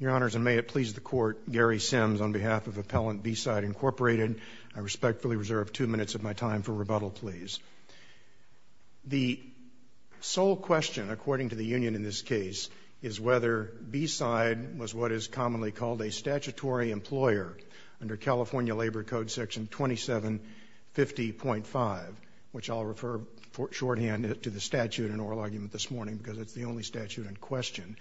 Your Honors, and may it please the Court, Gary Simms on behalf of Appellant B-Side Inc. I respectfully reserve two minutes of my time for rebuttal, please. The sole question, according to the union in this case, is whether B-Side was what is commonly called a statutory employer under California Labor Code Section 2750.5, which I'll refer shorthand to the statute in oral argument this morning, because it's the only statute in question.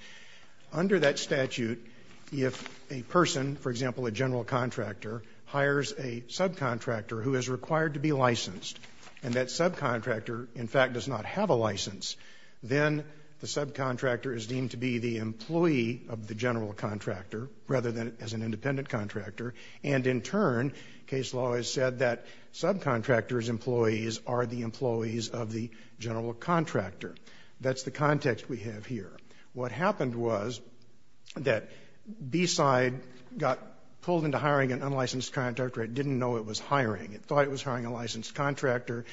Under that statute, if a person, for example, a general contractor, hires a subcontractor who is required to be licensed, and that subcontractor, in fact, does not have a license, then the subcontractor is deemed to be the employee of the general contractor rather than as an independent contractor, and in turn, case law has said that subcontractors' employees are the employees of the general contractor. That's the context we have here. What happened was that B-Side got pulled into hiring an unlicensed contractor. It didn't know it was hiring. It thought it was hiring a licensed contractor.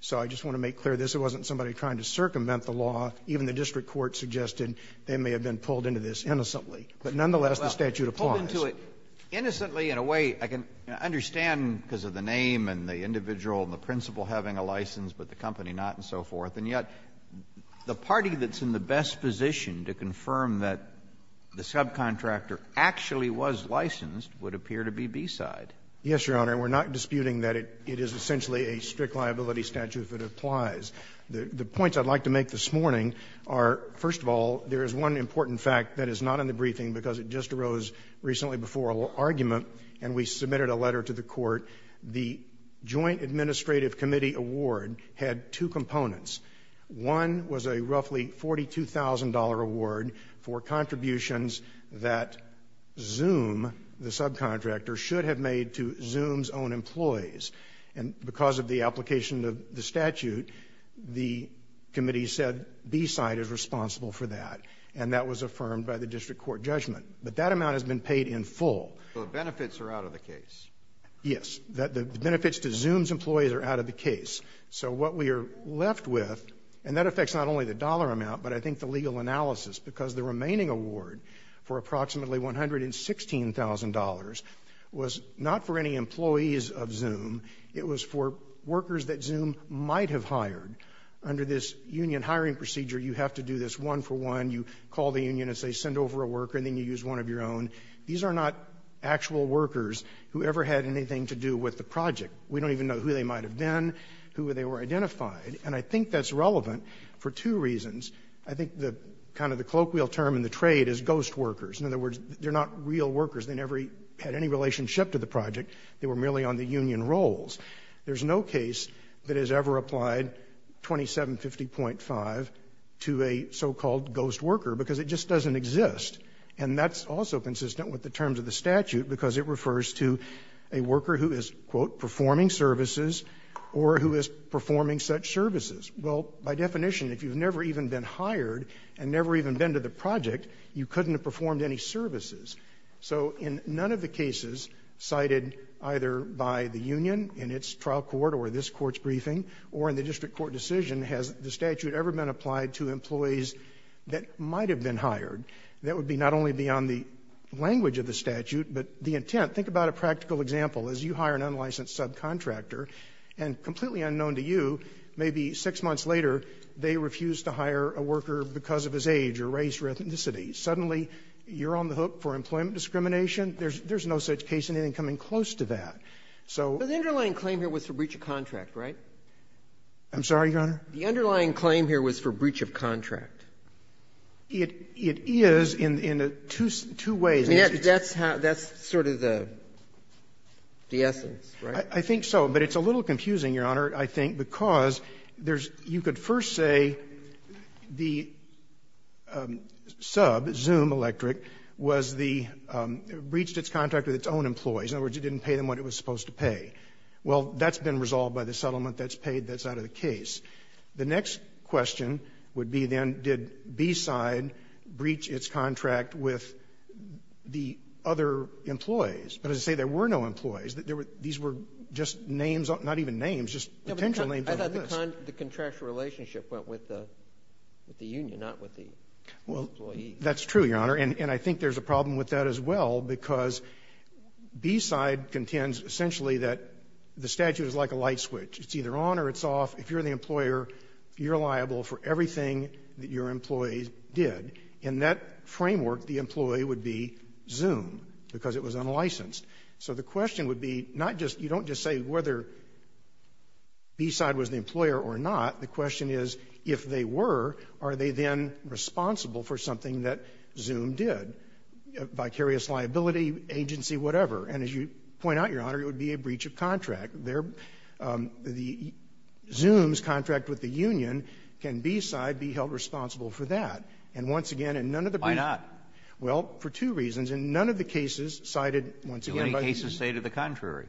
So I just want to make clear this. It wasn't somebody trying to circumvent the law. Even the district court suggested they may have been pulled into this innocently. But nonetheless, the statute applies. Kennedy, in a way, I can understand because of the name and the individual and the principal having a license, but the company not, and so forth, and yet the party that's in the best position to confirm that the subcontractor actually was licensed would appear to be B-Side. Yes, Your Honor. We're not disputing that it is essentially a strict liability statute that applies. The points I'd like to make this morning are, first of all, there is one important fact that is not in the briefing because it just arose recently before a little argument, and we submitted a letter to the Court. The Joint Administrative Committee award had two components. One was a roughly $42,000 award for contributions that Zoom, the subcontractor, should have made to Zoom's own employees. And because of the application of the statute, the committee said B-Side is responsible for that, and that was affirmed by the district court judgment. But that amount has been paid in full. So the benefits are out of the case. Yes. The benefits to Zoom's employees are out of the case. So what we are left with, and that affects not only the dollar amount, but I think the legal analysis, because the remaining award for approximately $116,000 was not for any employees of Zoom. It was for workers that Zoom might have hired. Under this union hiring procedure, you have to do this one for one. You call the union and say, send over a worker, and then you use one of your own. These are not actual workers who ever had anything to do with the project. We don't even know who they might have been, who they were identified. And I think that's relevant for two reasons. I think the kind of the colloquial term in the trade is ghost workers. In other words, they're not real workers. They never had any relationship to the project. They were merely on the union rolls. There's no case that has ever applied 2750.5 to a so-called ghost worker, because it just doesn't exist. And that's also consistent with the terms of the statute, because it refers to a worker who is, quote, performing services or who is performing such services. Well, by definition, if you've never even been hired and never even been to the project, you couldn't have performed any services. So in none of the cases cited either by the union in its trial court or this court's briefing or in the district court decision has the statute ever been applied to employees that might have been hired. That would be not only beyond the language of the statute, but the intent. Think about a practical example. As you hire an unlicensed subcontractor, and completely unknown to you, maybe six months later, they refuse to hire a worker because of his age or race or ethnicity. Suddenly, you're on the hook for employment discrimination. There's no such case, anything coming close to that. So the underlying claim here was for breach of contract, right? I'm sorry, Your Honor? The underlying claim here was for breach of contract. It is in two ways. That's sort of the essence, right? I think so. But it's a little confusing, Your Honor, I think, because there's you could first say the sub, Zoom Electric, was the breached its contract with its own employees. In other words, it didn't pay them what it was supposed to pay. Well, that's been resolved by the settlement that's paid that's out of the case. The next question would be then did B-side breach its contract with the other employees. But as I say, there were no employees. These were just names, not even names, just potential names. I thought the contractual relationship went with the union, not with the employees. Well, that's true, Your Honor. And I think there's a problem with that as well, because B-side contends essentially that the statute is like a light switch. It's either on or it's off. If you're the employer, you're liable for everything that your employees did. In that framework, the employee would be Zoom because it was unlicensed. So the question would be not just you don't just say whether B-side was the employer or not, the question is if they were, are they then responsible for something that Zoom did, vicarious liability, agency, whatever. And as you point out, Your Honor, it would be a breach of contract. Their Zoom's contract with the union can B-side be held responsible for that. And once again, in none of the briefs ---- Kennedy, why not? Well, for two reasons. In none of the cases cited once again by Zoom ---- Do any cases say to the contrary?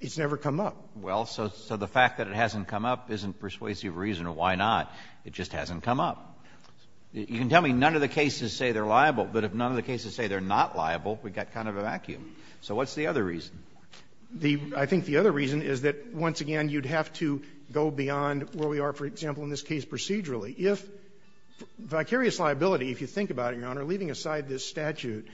It's never come up. Well, so the fact that it hasn't come up isn't persuasive reason to why not. It just hasn't come up. You can tell me none of the cases say they're liable, but if none of the cases say they're not liable, we've got kind of a vacuum. So what's the other reason? The ---- I think the other reason is that, once again, you'd have to go beyond where we are, for example, in this case procedurally. If vicarious liability, if you think about it, Your Honor, leaving aside this statute,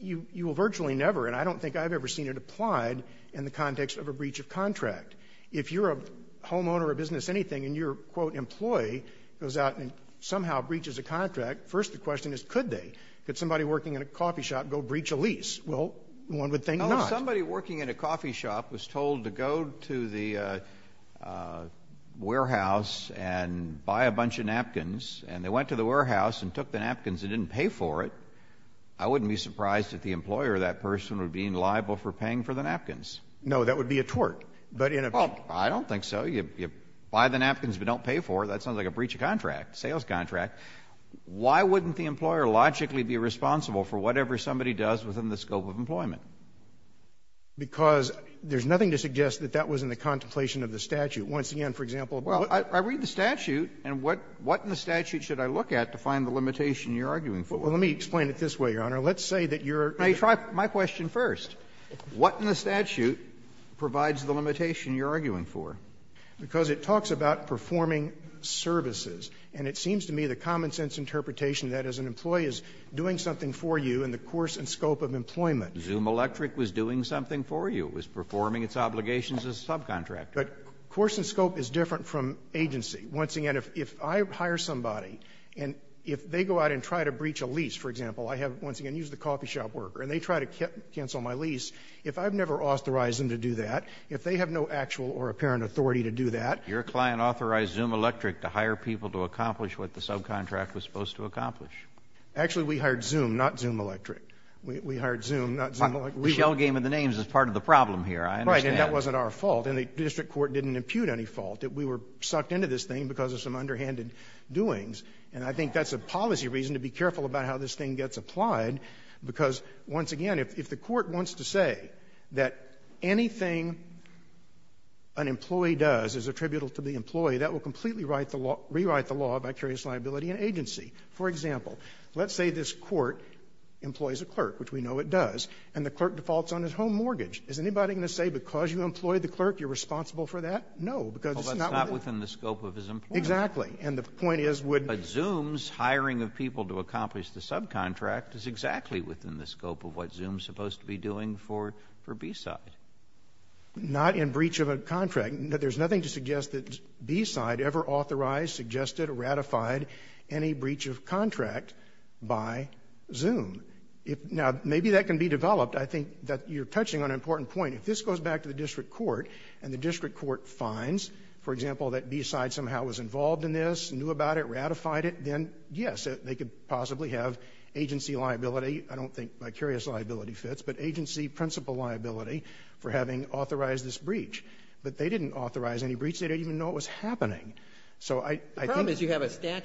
you will virtually never, and I don't think I've ever seen it applied in the context of a breach of contract. If you're a homeowner or a business anything and your, quote, employee goes out and somehow breaches a contract, first the question is could they? Could somebody working in a coffee shop go breach a lease? Well, one would think not. If somebody working in a coffee shop was told to go to the warehouse and buy a bunch of napkins and they went to the warehouse and took the napkins and didn't pay for it, I wouldn't be surprised if the employer, that person, would be liable for paying for the napkins. No, that would be a tort. But in a ---- Well, I don't think so. You buy the napkins but don't pay for it. That's not like a breach of contract, sales contract. Why wouldn't the employer logically be responsible for whatever somebody does within the scope of employment? Because there's nothing to suggest that that was in the contemplation of the statute. Once again, for example ---- Well, I read the statute, and what in the statute should I look at to find the limitation you're arguing for? Well, let me explain it this way, Your Honor. Let's say that you're ---- May I try my question first? What in the statute provides the limitation you're arguing for? Because it talks about performing services. And it seems to me the common-sense interpretation of that is an employee is doing something for you in the course and scope of employment. ZoomElectric was doing something for you. It was performing its obligations as a subcontractor. But course and scope is different from agency. Once again, if I hire somebody, and if they go out and try to breach a lease, for example, I have, once again, used the coffee shop worker, and they try to cancel my lease, if I've never authorized them to do that, if they have no actual or apparent authority to do that ---- Your client authorized ZoomElectric to hire people to accomplish what the subcontract was supposed to accomplish. Actually, we hired Zoom, not ZoomElectric. We hired Zoom, not ZoomElectric. Shell game of the names is part of the problem here. I understand. Right. And that wasn't our fault. And the district court didn't impute any fault. We were sucked into this thing because of some underhanded doings. And I think that's a policy reason to be careful about how this thing gets applied. Because, once again, if the court wants to say that anything an employee does is attributable to the employee, that will completely rewrite the law by curious liability and agency. For example, let's say this court employs a clerk, which we know it does, and the clerk defaults on his home mortgage. Is anybody going to say because you employed the clerk, you're responsible for that? No, because it's not within the scope of his employment. Exactly. And the point is, would ---- But Zoom's hiring of people to accomplish the subcontract is exactly within the scope of what Zoom's supposed to be doing for B-side. Not in breach of a contract. There's nothing to suggest that B-side ever authorized, suggested, or ratified any breach of contract by Zoom. Now, maybe that can be developed. I think that you're touching on an important point. If this goes back to the district court and the district court finds, for example, that B-side somehow was involved in this, knew about it, ratified it, then, yes, they could possibly have agency liability. I don't think by curious liability fits, but agency principle liability for having authorized this breach. But they didn't authorize any breach. They didn't even know it was happening. So I think ---- And that's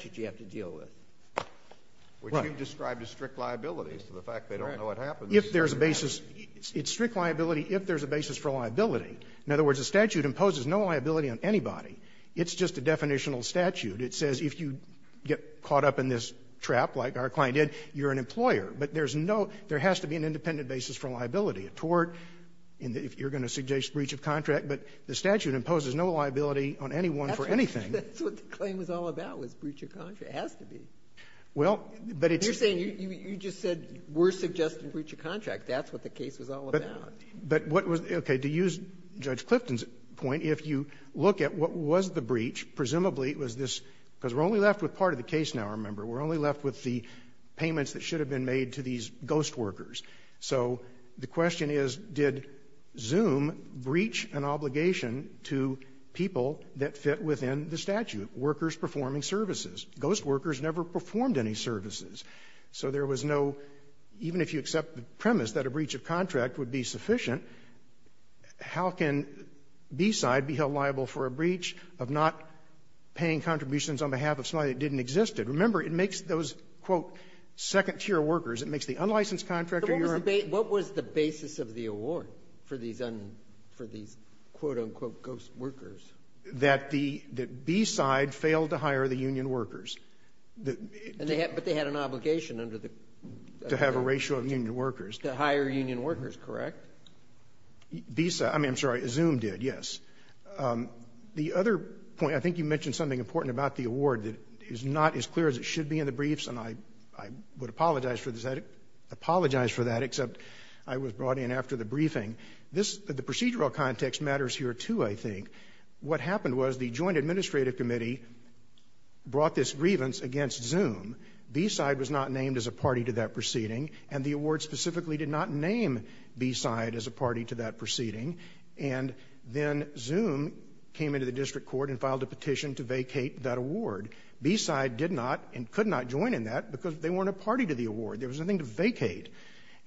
what you have to deal with. Right. Which you described as strict liability, the fact they don't know it happens. If there's a basis, it's strict liability if there's a basis for liability. In other words, the statute imposes no liability on anybody. It's just a definitional statute. It says if you get caught up in this trap, like our client did, you're an employer. But there's no ---- there has to be an independent basis for liability, a tort, and if you're going to suggest breach of contract, but the statute imposes no liability on anyone for anything. That's what the claim was all about, was breach of contract. It has to be. Well, but it's ---- You're saying you just said we're suggesting breach of contract. That's what the case was all about. But what was the ---- okay. To use Judge Clifton's point, if you look at what was the breach, presumably it was this, because we're only left with part of the case now, remember. We're only left with the payments that should have been made to these ghost workers. So the question is, did Zoom breach an obligation to people that fit within the statute of workers performing services? Ghost workers never performed any services. So there was no ---- even if you accept the premise that a breach of contract would be sufficient, how can B-side be held liable for a breach of not paying contributions on behalf of somebody that didn't exist? And remember, it makes those, quote, second-tier It makes the unlicensed contractor your own ---- But what was the basis of the award for these un ---- for these, quote, unquote, ghost workers? That the B-side failed to hire the union workers. And they had ---- But they had an obligation under the ---- To have a ratio of union workers. To hire union workers, correct? B-side. I mean, I'm sorry. Zoom did, yes. The other point, I think you mentioned something important about the award that is not as clear as it should be in the briefs, and I would apologize for this. I apologize for that, except I was brought in after the briefing. This ---- the procedural context matters here, too, I think. What happened was the joint administrative committee brought this grievance against Zoom. B-side was not named as a party to that proceeding, and the award specifically did not name B-side as a party to that proceeding. And then Zoom came into the district court and filed a petition to vacate that award. B-side did not and could not join in that because they weren't a party to the award. There was nothing to vacate.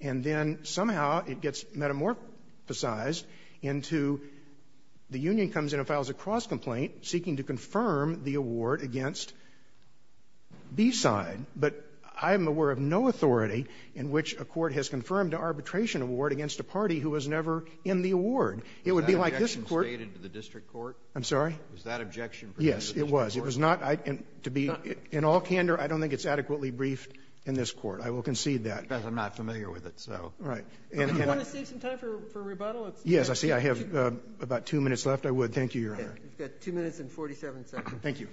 And then somehow it gets metamorphosized into the union comes in and files a cross-complaint seeking to confirm the award against B-side. But I'm aware of no authority in which a court has confirmed an arbitration award against a party who was never in the award. It would be like this Court ---- Was that objection stated to the district court? I'm sorry? Was that objection presented to the district court? Yes, it was. It was not to be in all candor. I don't think it's adequately briefed in this Court. I will concede that. I'm not familiar with it, so. All right. And can I ---- Do you want to save some time for rebuttal? Yes, I see. I have about two minutes left. I would. Thank you, Your Honor. You've got two minutes and 47 seconds. Thank you.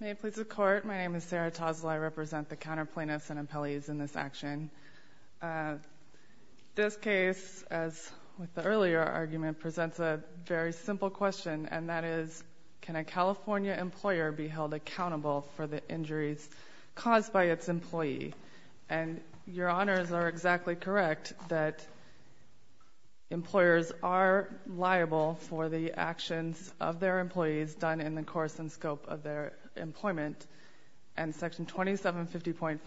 May it please the Court. My name is Sarah Tosla. I represent the counter plaintiffs and appellees in this action. This case, as with the earlier argument, presents a very simple question, and that is, can a California employer be held accountable for the injuries caused by its employee? And Your Honors are exactly correct that employers are liable for the actions of their employees done in the course and scope of their employment. And Section 2750.5,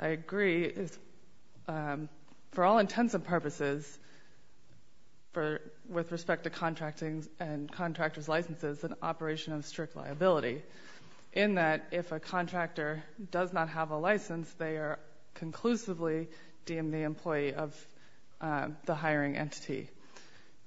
I agree, is for all intents and purposes, for ---- with respect to contracting and contractor's licenses, an operation of strict liability, in that if a contractor does not have a license, they are conclusively deemed the employee of the hiring entity.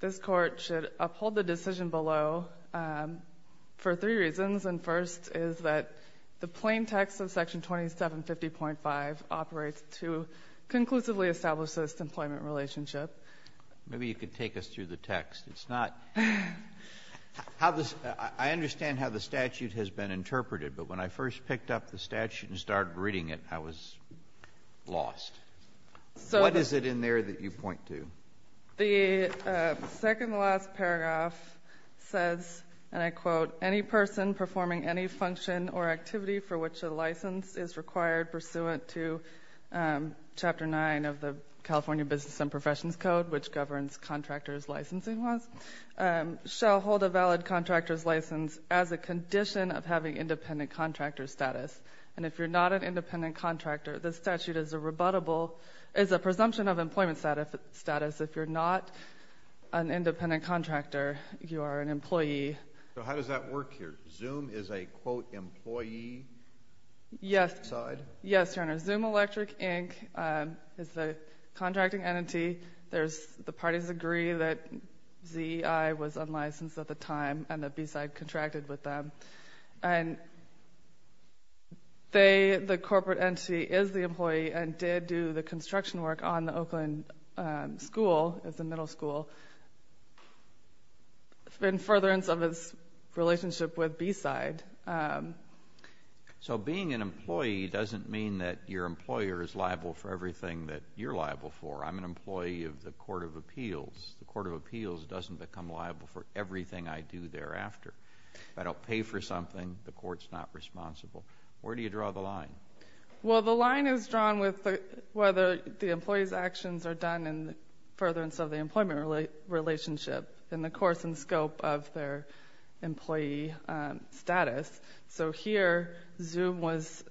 This Court should uphold the decision below for three reasons, and first is that the plain text of Section 2750.5 operates to conclusively establish this employment relationship. Maybe you could take us through the text. It's not ---- I understand how the statute has been interpreted, but when I first picked up the statute and started reading it, I was lost. What is it in there that you point to? The second to last paragraph says, and I quote, any person performing any function or activity for which a license is required pursuant to Chapter 9 of the California Business and Professions Code, which governs contractor's licensing laws, shall hold a valid contractor's license as a condition of having independent contractor status. And if you're not an independent contractor, the statute is a rebuttable, is a presumption of employment status. If you're not an independent contractor, you are an employee. So how does that work here? Zoom is a, quote, employee? Yes. B-side. Yes, Your Honor. Zoom Electric Inc. is the contracting entity. The parties agree that ZEI was unlicensed at the time and that B-side contracted with them. And they, the corporate entity, is the employee and did do the construction work on the Oakland School, it's a middle school, in furtherance of its relationship with B-side. So being an employee doesn't mean that your employer is liable for everything that you're liable for. I'm an employee of the Court of Appeals. The Court of Appeals doesn't become liable for everything I do thereafter. If I don't pay for something, the court's not responsible. Where do you draw the line? Well, the line is drawn with whether the employee's actions are done in furtherance of the employment relationship in the course and scope of their employee status. So here, Zoom was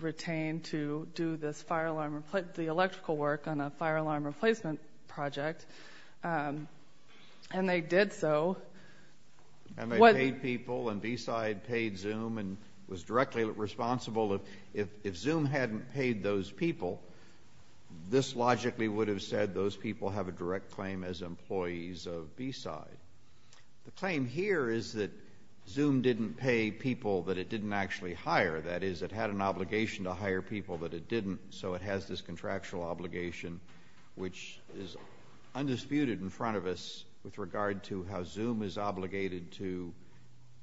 retained to do this fire alarm, the electrical work on a fire alarm replacement project. And they did so. And they paid people, and B-side paid Zoom and was directly responsible. If Zoom hadn't paid those people, this logically would have said those people have a direct claim as employees of B-side. The claim here is that Zoom didn't pay people that it didn't actually hire. That is, it had an obligation to hire people that it didn't. So it has this contractual obligation which is undisputed in front of us with regard to how Zoom is obligated to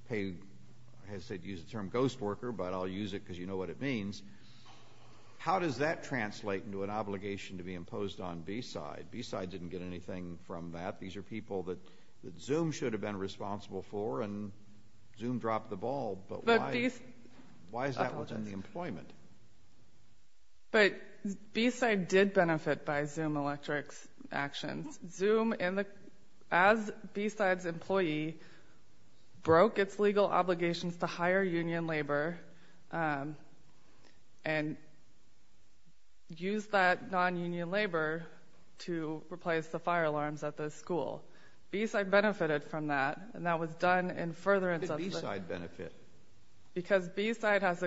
pay, I hate to use the term ghost worker, but I'll use it because you know what it means. How does that translate into an obligation to be imposed on B-side? B-side didn't get anything from that. These are people that Zoom should have been responsible for, and Zoom dropped the ball. But why is that within the employment? But B-side did benefit by Zoom Electric's actions. Zoom, as B-side's employee, broke its legal obligations to hire union labor and used that non-union labor to replace the fire alarms at the school. B-side benefited from that, and that was done in furtherance of the- How did B-side benefit? Because B-side had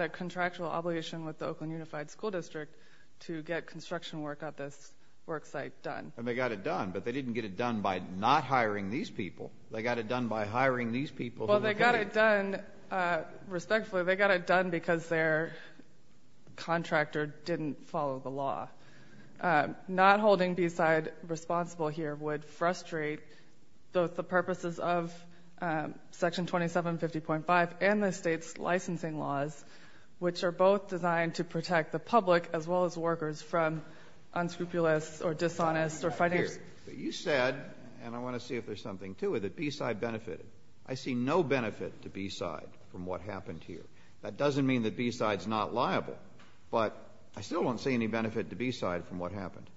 a contractual obligation with the Oakland Unified School District to get construction work at this work site done. And they got it done, but they didn't get it done by not hiring these people. They got it done by hiring these people. Well, they got it done, respectfully, they got it done because their contractor didn't follow the law. Not holding B-side responsible here would frustrate both the purposes of Section 2750.5 and the state's licensing laws, which are both designed to protect the public as well as workers from unscrupulous or dishonest or fighters. You said, and I want to see if there's something to it, that B-side benefited. I see no benefit to B-side from what happened here. That doesn't mean that B-side's not liable, but I still don't see any benefit to B-side from what happened.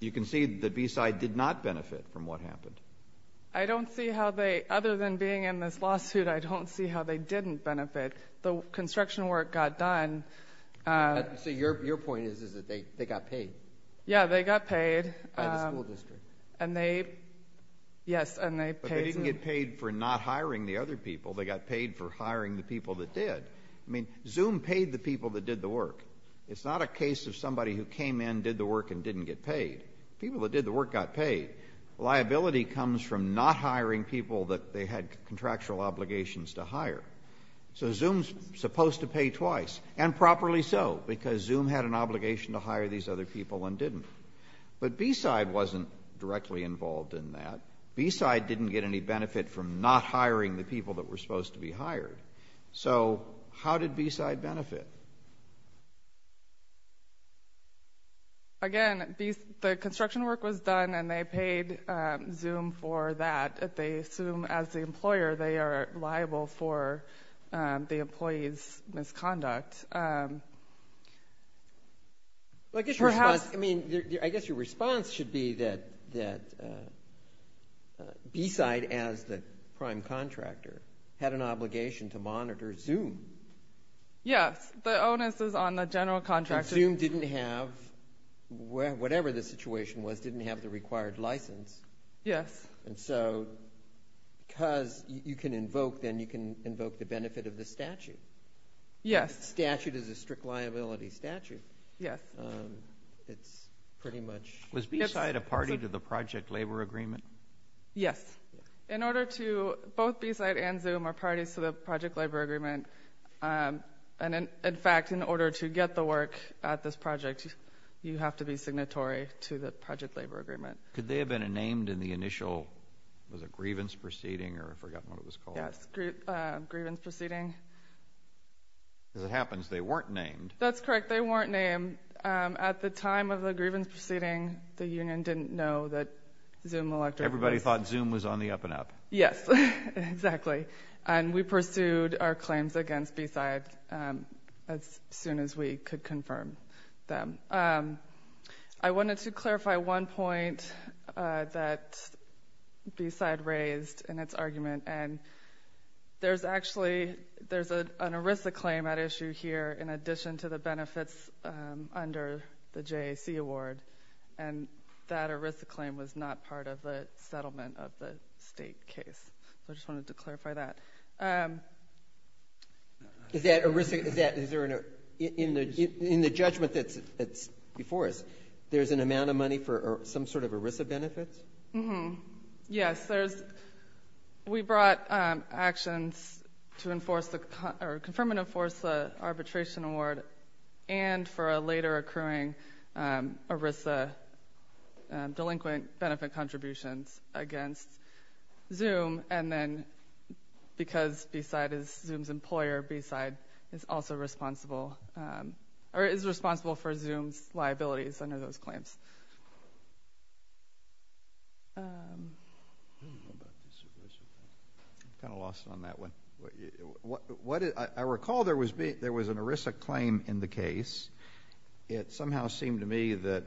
You concede that B-side did not benefit from what happened. I don't see how they, other than being in this lawsuit, I don't see how they didn't benefit. The construction work got done. So your point is that they got paid? Yeah, they got paid. By the school district. And they, yes, and they paid. But they didn't get paid for not hiring the other people, they got paid for hiring the people that did. I mean, Zoom paid the people that did the work. It's not a case of somebody who came in, did the work, and didn't get paid. People that did the work got paid. Liability comes from not hiring people that they had contractual obligations to hire. So Zoom's supposed to pay twice. And properly so, because Zoom had an obligation to hire these other people and didn't. But B-side wasn't directly involved in that. B-side didn't get any benefit from not hiring the people that were supposed to be hired. So how did B-side benefit? Again, the construction work was done and they paid Zoom for that. But they assume as the employer they are liable for the employee's misconduct. I guess your response should be that B-side, as the prime contractor, had an obligation to monitor Zoom. Yes. The onus is on the general contractor. Zoom didn't have, whatever the situation was, didn't have the required license. Yes. And so, because you can invoke, then you can invoke the benefit of the statute. Yes. The statute is a strict liability statute. It's pretty much... Was B-side a party to the project labor agreement? Yes. In order to, both B-side and Zoom are parties to the project labor agreement. And in fact, in order to get the work at this project, you have to be signatory to the project labor agreement. Could they have been named in the initial, was it grievance proceeding, or I've forgotten what it was called? Yes. Grievance proceeding. As it happens, they weren't named. That's correct. They weren't named. At the time of the grievance proceeding, the union didn't know that Zoom electric was... Everybody thought Zoom was on the up and up. Yes. Exactly. And we pursued our claims against B-side as soon as we could confirm them. I wanted to clarify one point that B-side raised in its argument, and there's actually, there's an ERISA claim at issue here, in addition to the benefits under the JAC award, and that ERISA claim was not part of the settlement of the state case, so I just wanted to clarify that. Is that ERISA, is there, in the judgment that's before us, there's an amount of money for some sort of ERISA benefits? Yes. There's, we brought actions to enforce the, or confirm and enforce the arbitration award, and for a later accruing ERISA delinquent benefit contributions against Zoom, and then, because B-side is Zoom's employer, B-side is also responsible, or is responsible for Zoom's liabilities under those claims. I don't know about this ERISA thing, I'm kind of lost on that one. I recall there was an ERISA claim in the case. It somehow seemed to me that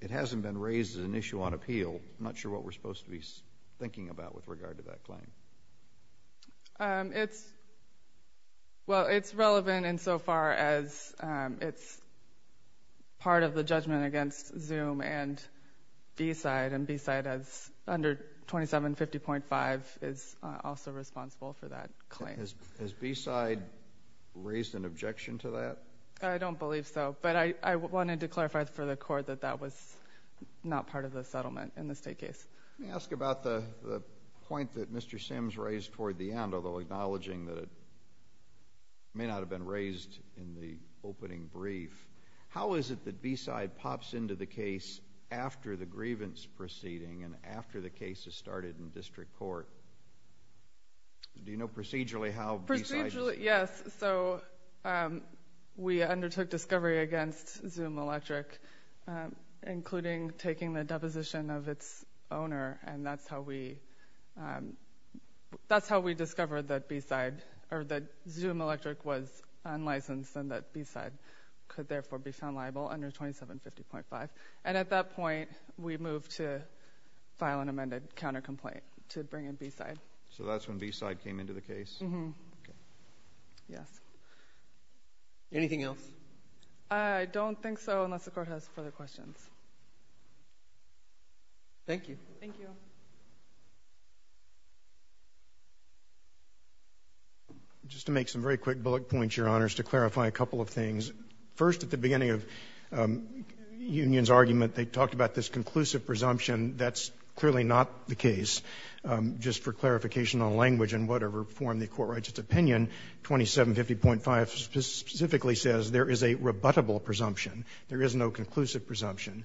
it hasn't been raised as an issue on appeal, I'm not sure what we're supposed to be thinking about with regard to that claim. It's, well, it's relevant insofar as it's part of the judgment against Zoom and B-side, and B-side has, under 2750.5, is also responsible for that claim. Has B-side raised an objection to that? I don't believe so, but I wanted to clarify for the court that that was not part of the Let me ask about the point that Mr. Sims raised toward the end, although acknowledging that it may not have been raised in the opening brief. How is it that B-side pops into the case after the grievance proceeding, and after the case is started in district court? Do you know procedurally how B-side does it? Procedurally, yes, so we undertook discovery against Zoom Electric, including taking the owner, and that's how we discovered that Zoom Electric was unlicensed, and that B-side could therefore be found liable under 2750.5, and at that point, we moved to file an amended counter-complaint to bring in B-side. So that's when B-side came into the case? Mm-hmm. Okay. Yes. Anything else? I don't think so, unless the court has further questions. Thank you. Thank you. Just to make some very quick bullet points, Your Honors, to clarify a couple of things. First, at the beginning of Union's argument, they talked about this conclusive presumption. That's clearly not the case. Just for clarification on language and whatever form the Court writes its opinion, 2750.5 specifically says there is a rebuttable presumption. There is no conclusive presumption.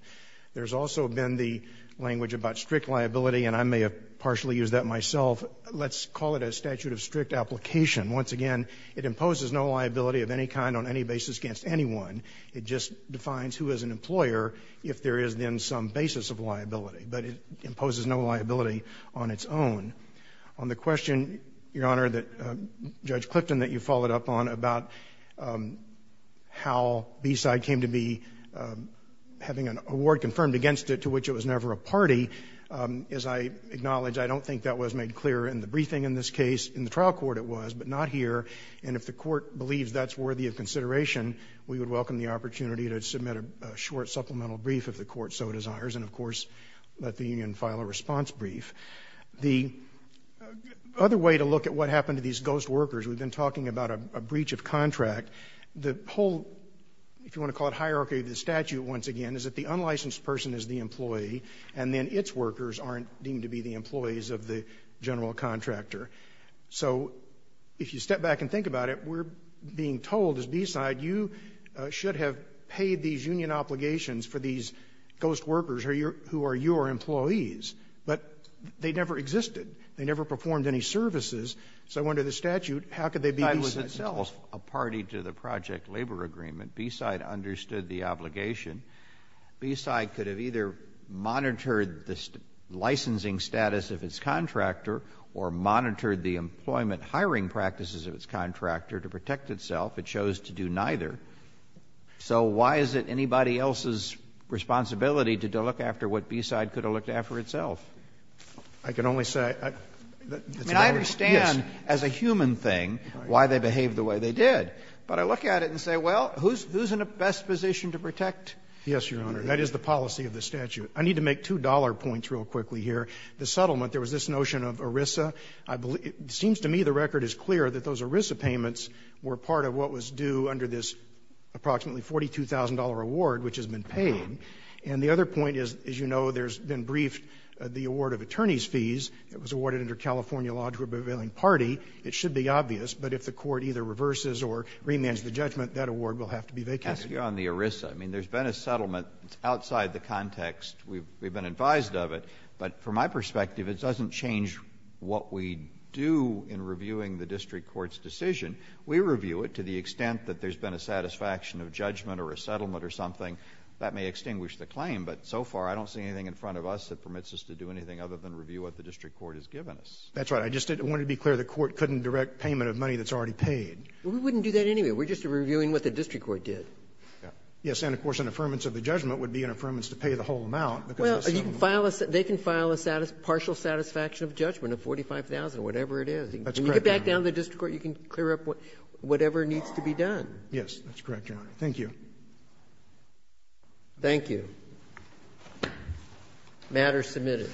There's also been the language about strict liability, and I may have partially used that myself. Let's call it a statute of strict application. Once again, it imposes no liability of any kind on any basis against anyone. It just defines who is an employer if there is then some basis of liability, but it imposes no liability on its own. On the question, Your Honor, that Judge Clifton, that you followed up on about how the award confirmed against it to which it was never a party, as I acknowledge, I don't think that was made clear in the briefing in this case. In the trial court it was, but not here, and if the Court believes that's worthy of consideration, we would welcome the opportunity to submit a short supplemental brief if the Court so desires and, of course, let the Union file a response brief. The other way to look at what happened to these ghost workers, we've been talking about a breach of contract, the whole, if you want to call it hierarchy of the statute once again, is that the unlicensed person is the employee, and then its workers aren't deemed to be the employees of the general contractor. So if you step back and think about it, we're being told, as Beaside, you should have paid these union obligations for these ghost workers who are your employees, but they never existed. They never performed any services. So under the statute, how could they be Beaside? If Beaside itself, a party to the project labor agreement, Beaside understood the obligation, Beaside could have either monitored the licensing status of its contractor or monitored the employment hiring practices of its contractor to protect itself. It chose to do neither. So why is it anybody else's responsibility to look after what Beaside could have looked after itself? I can only say that it's a matter of course, yes. Why they behaved the way they did. But I look at it and say, well, who's in a best position to protect? Yes, Your Honor, that is the policy of the statute. I need to make two dollar points real quickly here. The settlement, there was this notion of ERISA. It seems to me the record is clear that those ERISA payments were part of what was due under this approximately $42,000 award, which has been paid. And the other point is, as you know, there's been briefed the award of attorneys fees that was awarded under California law to a prevailing party. It should be obvious, but if the Court either reverses or remands the judgment, that award will have to be vacated. Verrilli, I mean, there's been a settlement outside the context we've been advised of it. But from my perspective, it doesn't change what we do in reviewing the district court's decision. We review it to the extent that there's been a satisfaction of judgment or a settlement or something. That may extinguish the claim, but so far I don't see anything in front of us that permits us to do anything other than review what the district court has given us. That's right. I just wanted to be clear, the Court couldn't direct payment of money that's already paid. We wouldn't do that anyway. We're just reviewing what the district court did. Yes. And, of course, an affirmance of the judgment would be an affirmance to pay the whole amount, because there's some of them. Well, they can file a partial satisfaction of judgment of $45,000, whatever it is. That's correct, Your Honor. When you get back down to the district court, you can clear up whatever needs to be done. Yes, that's correct, Your Honor. Thank you. Thank you. The matter is submitted.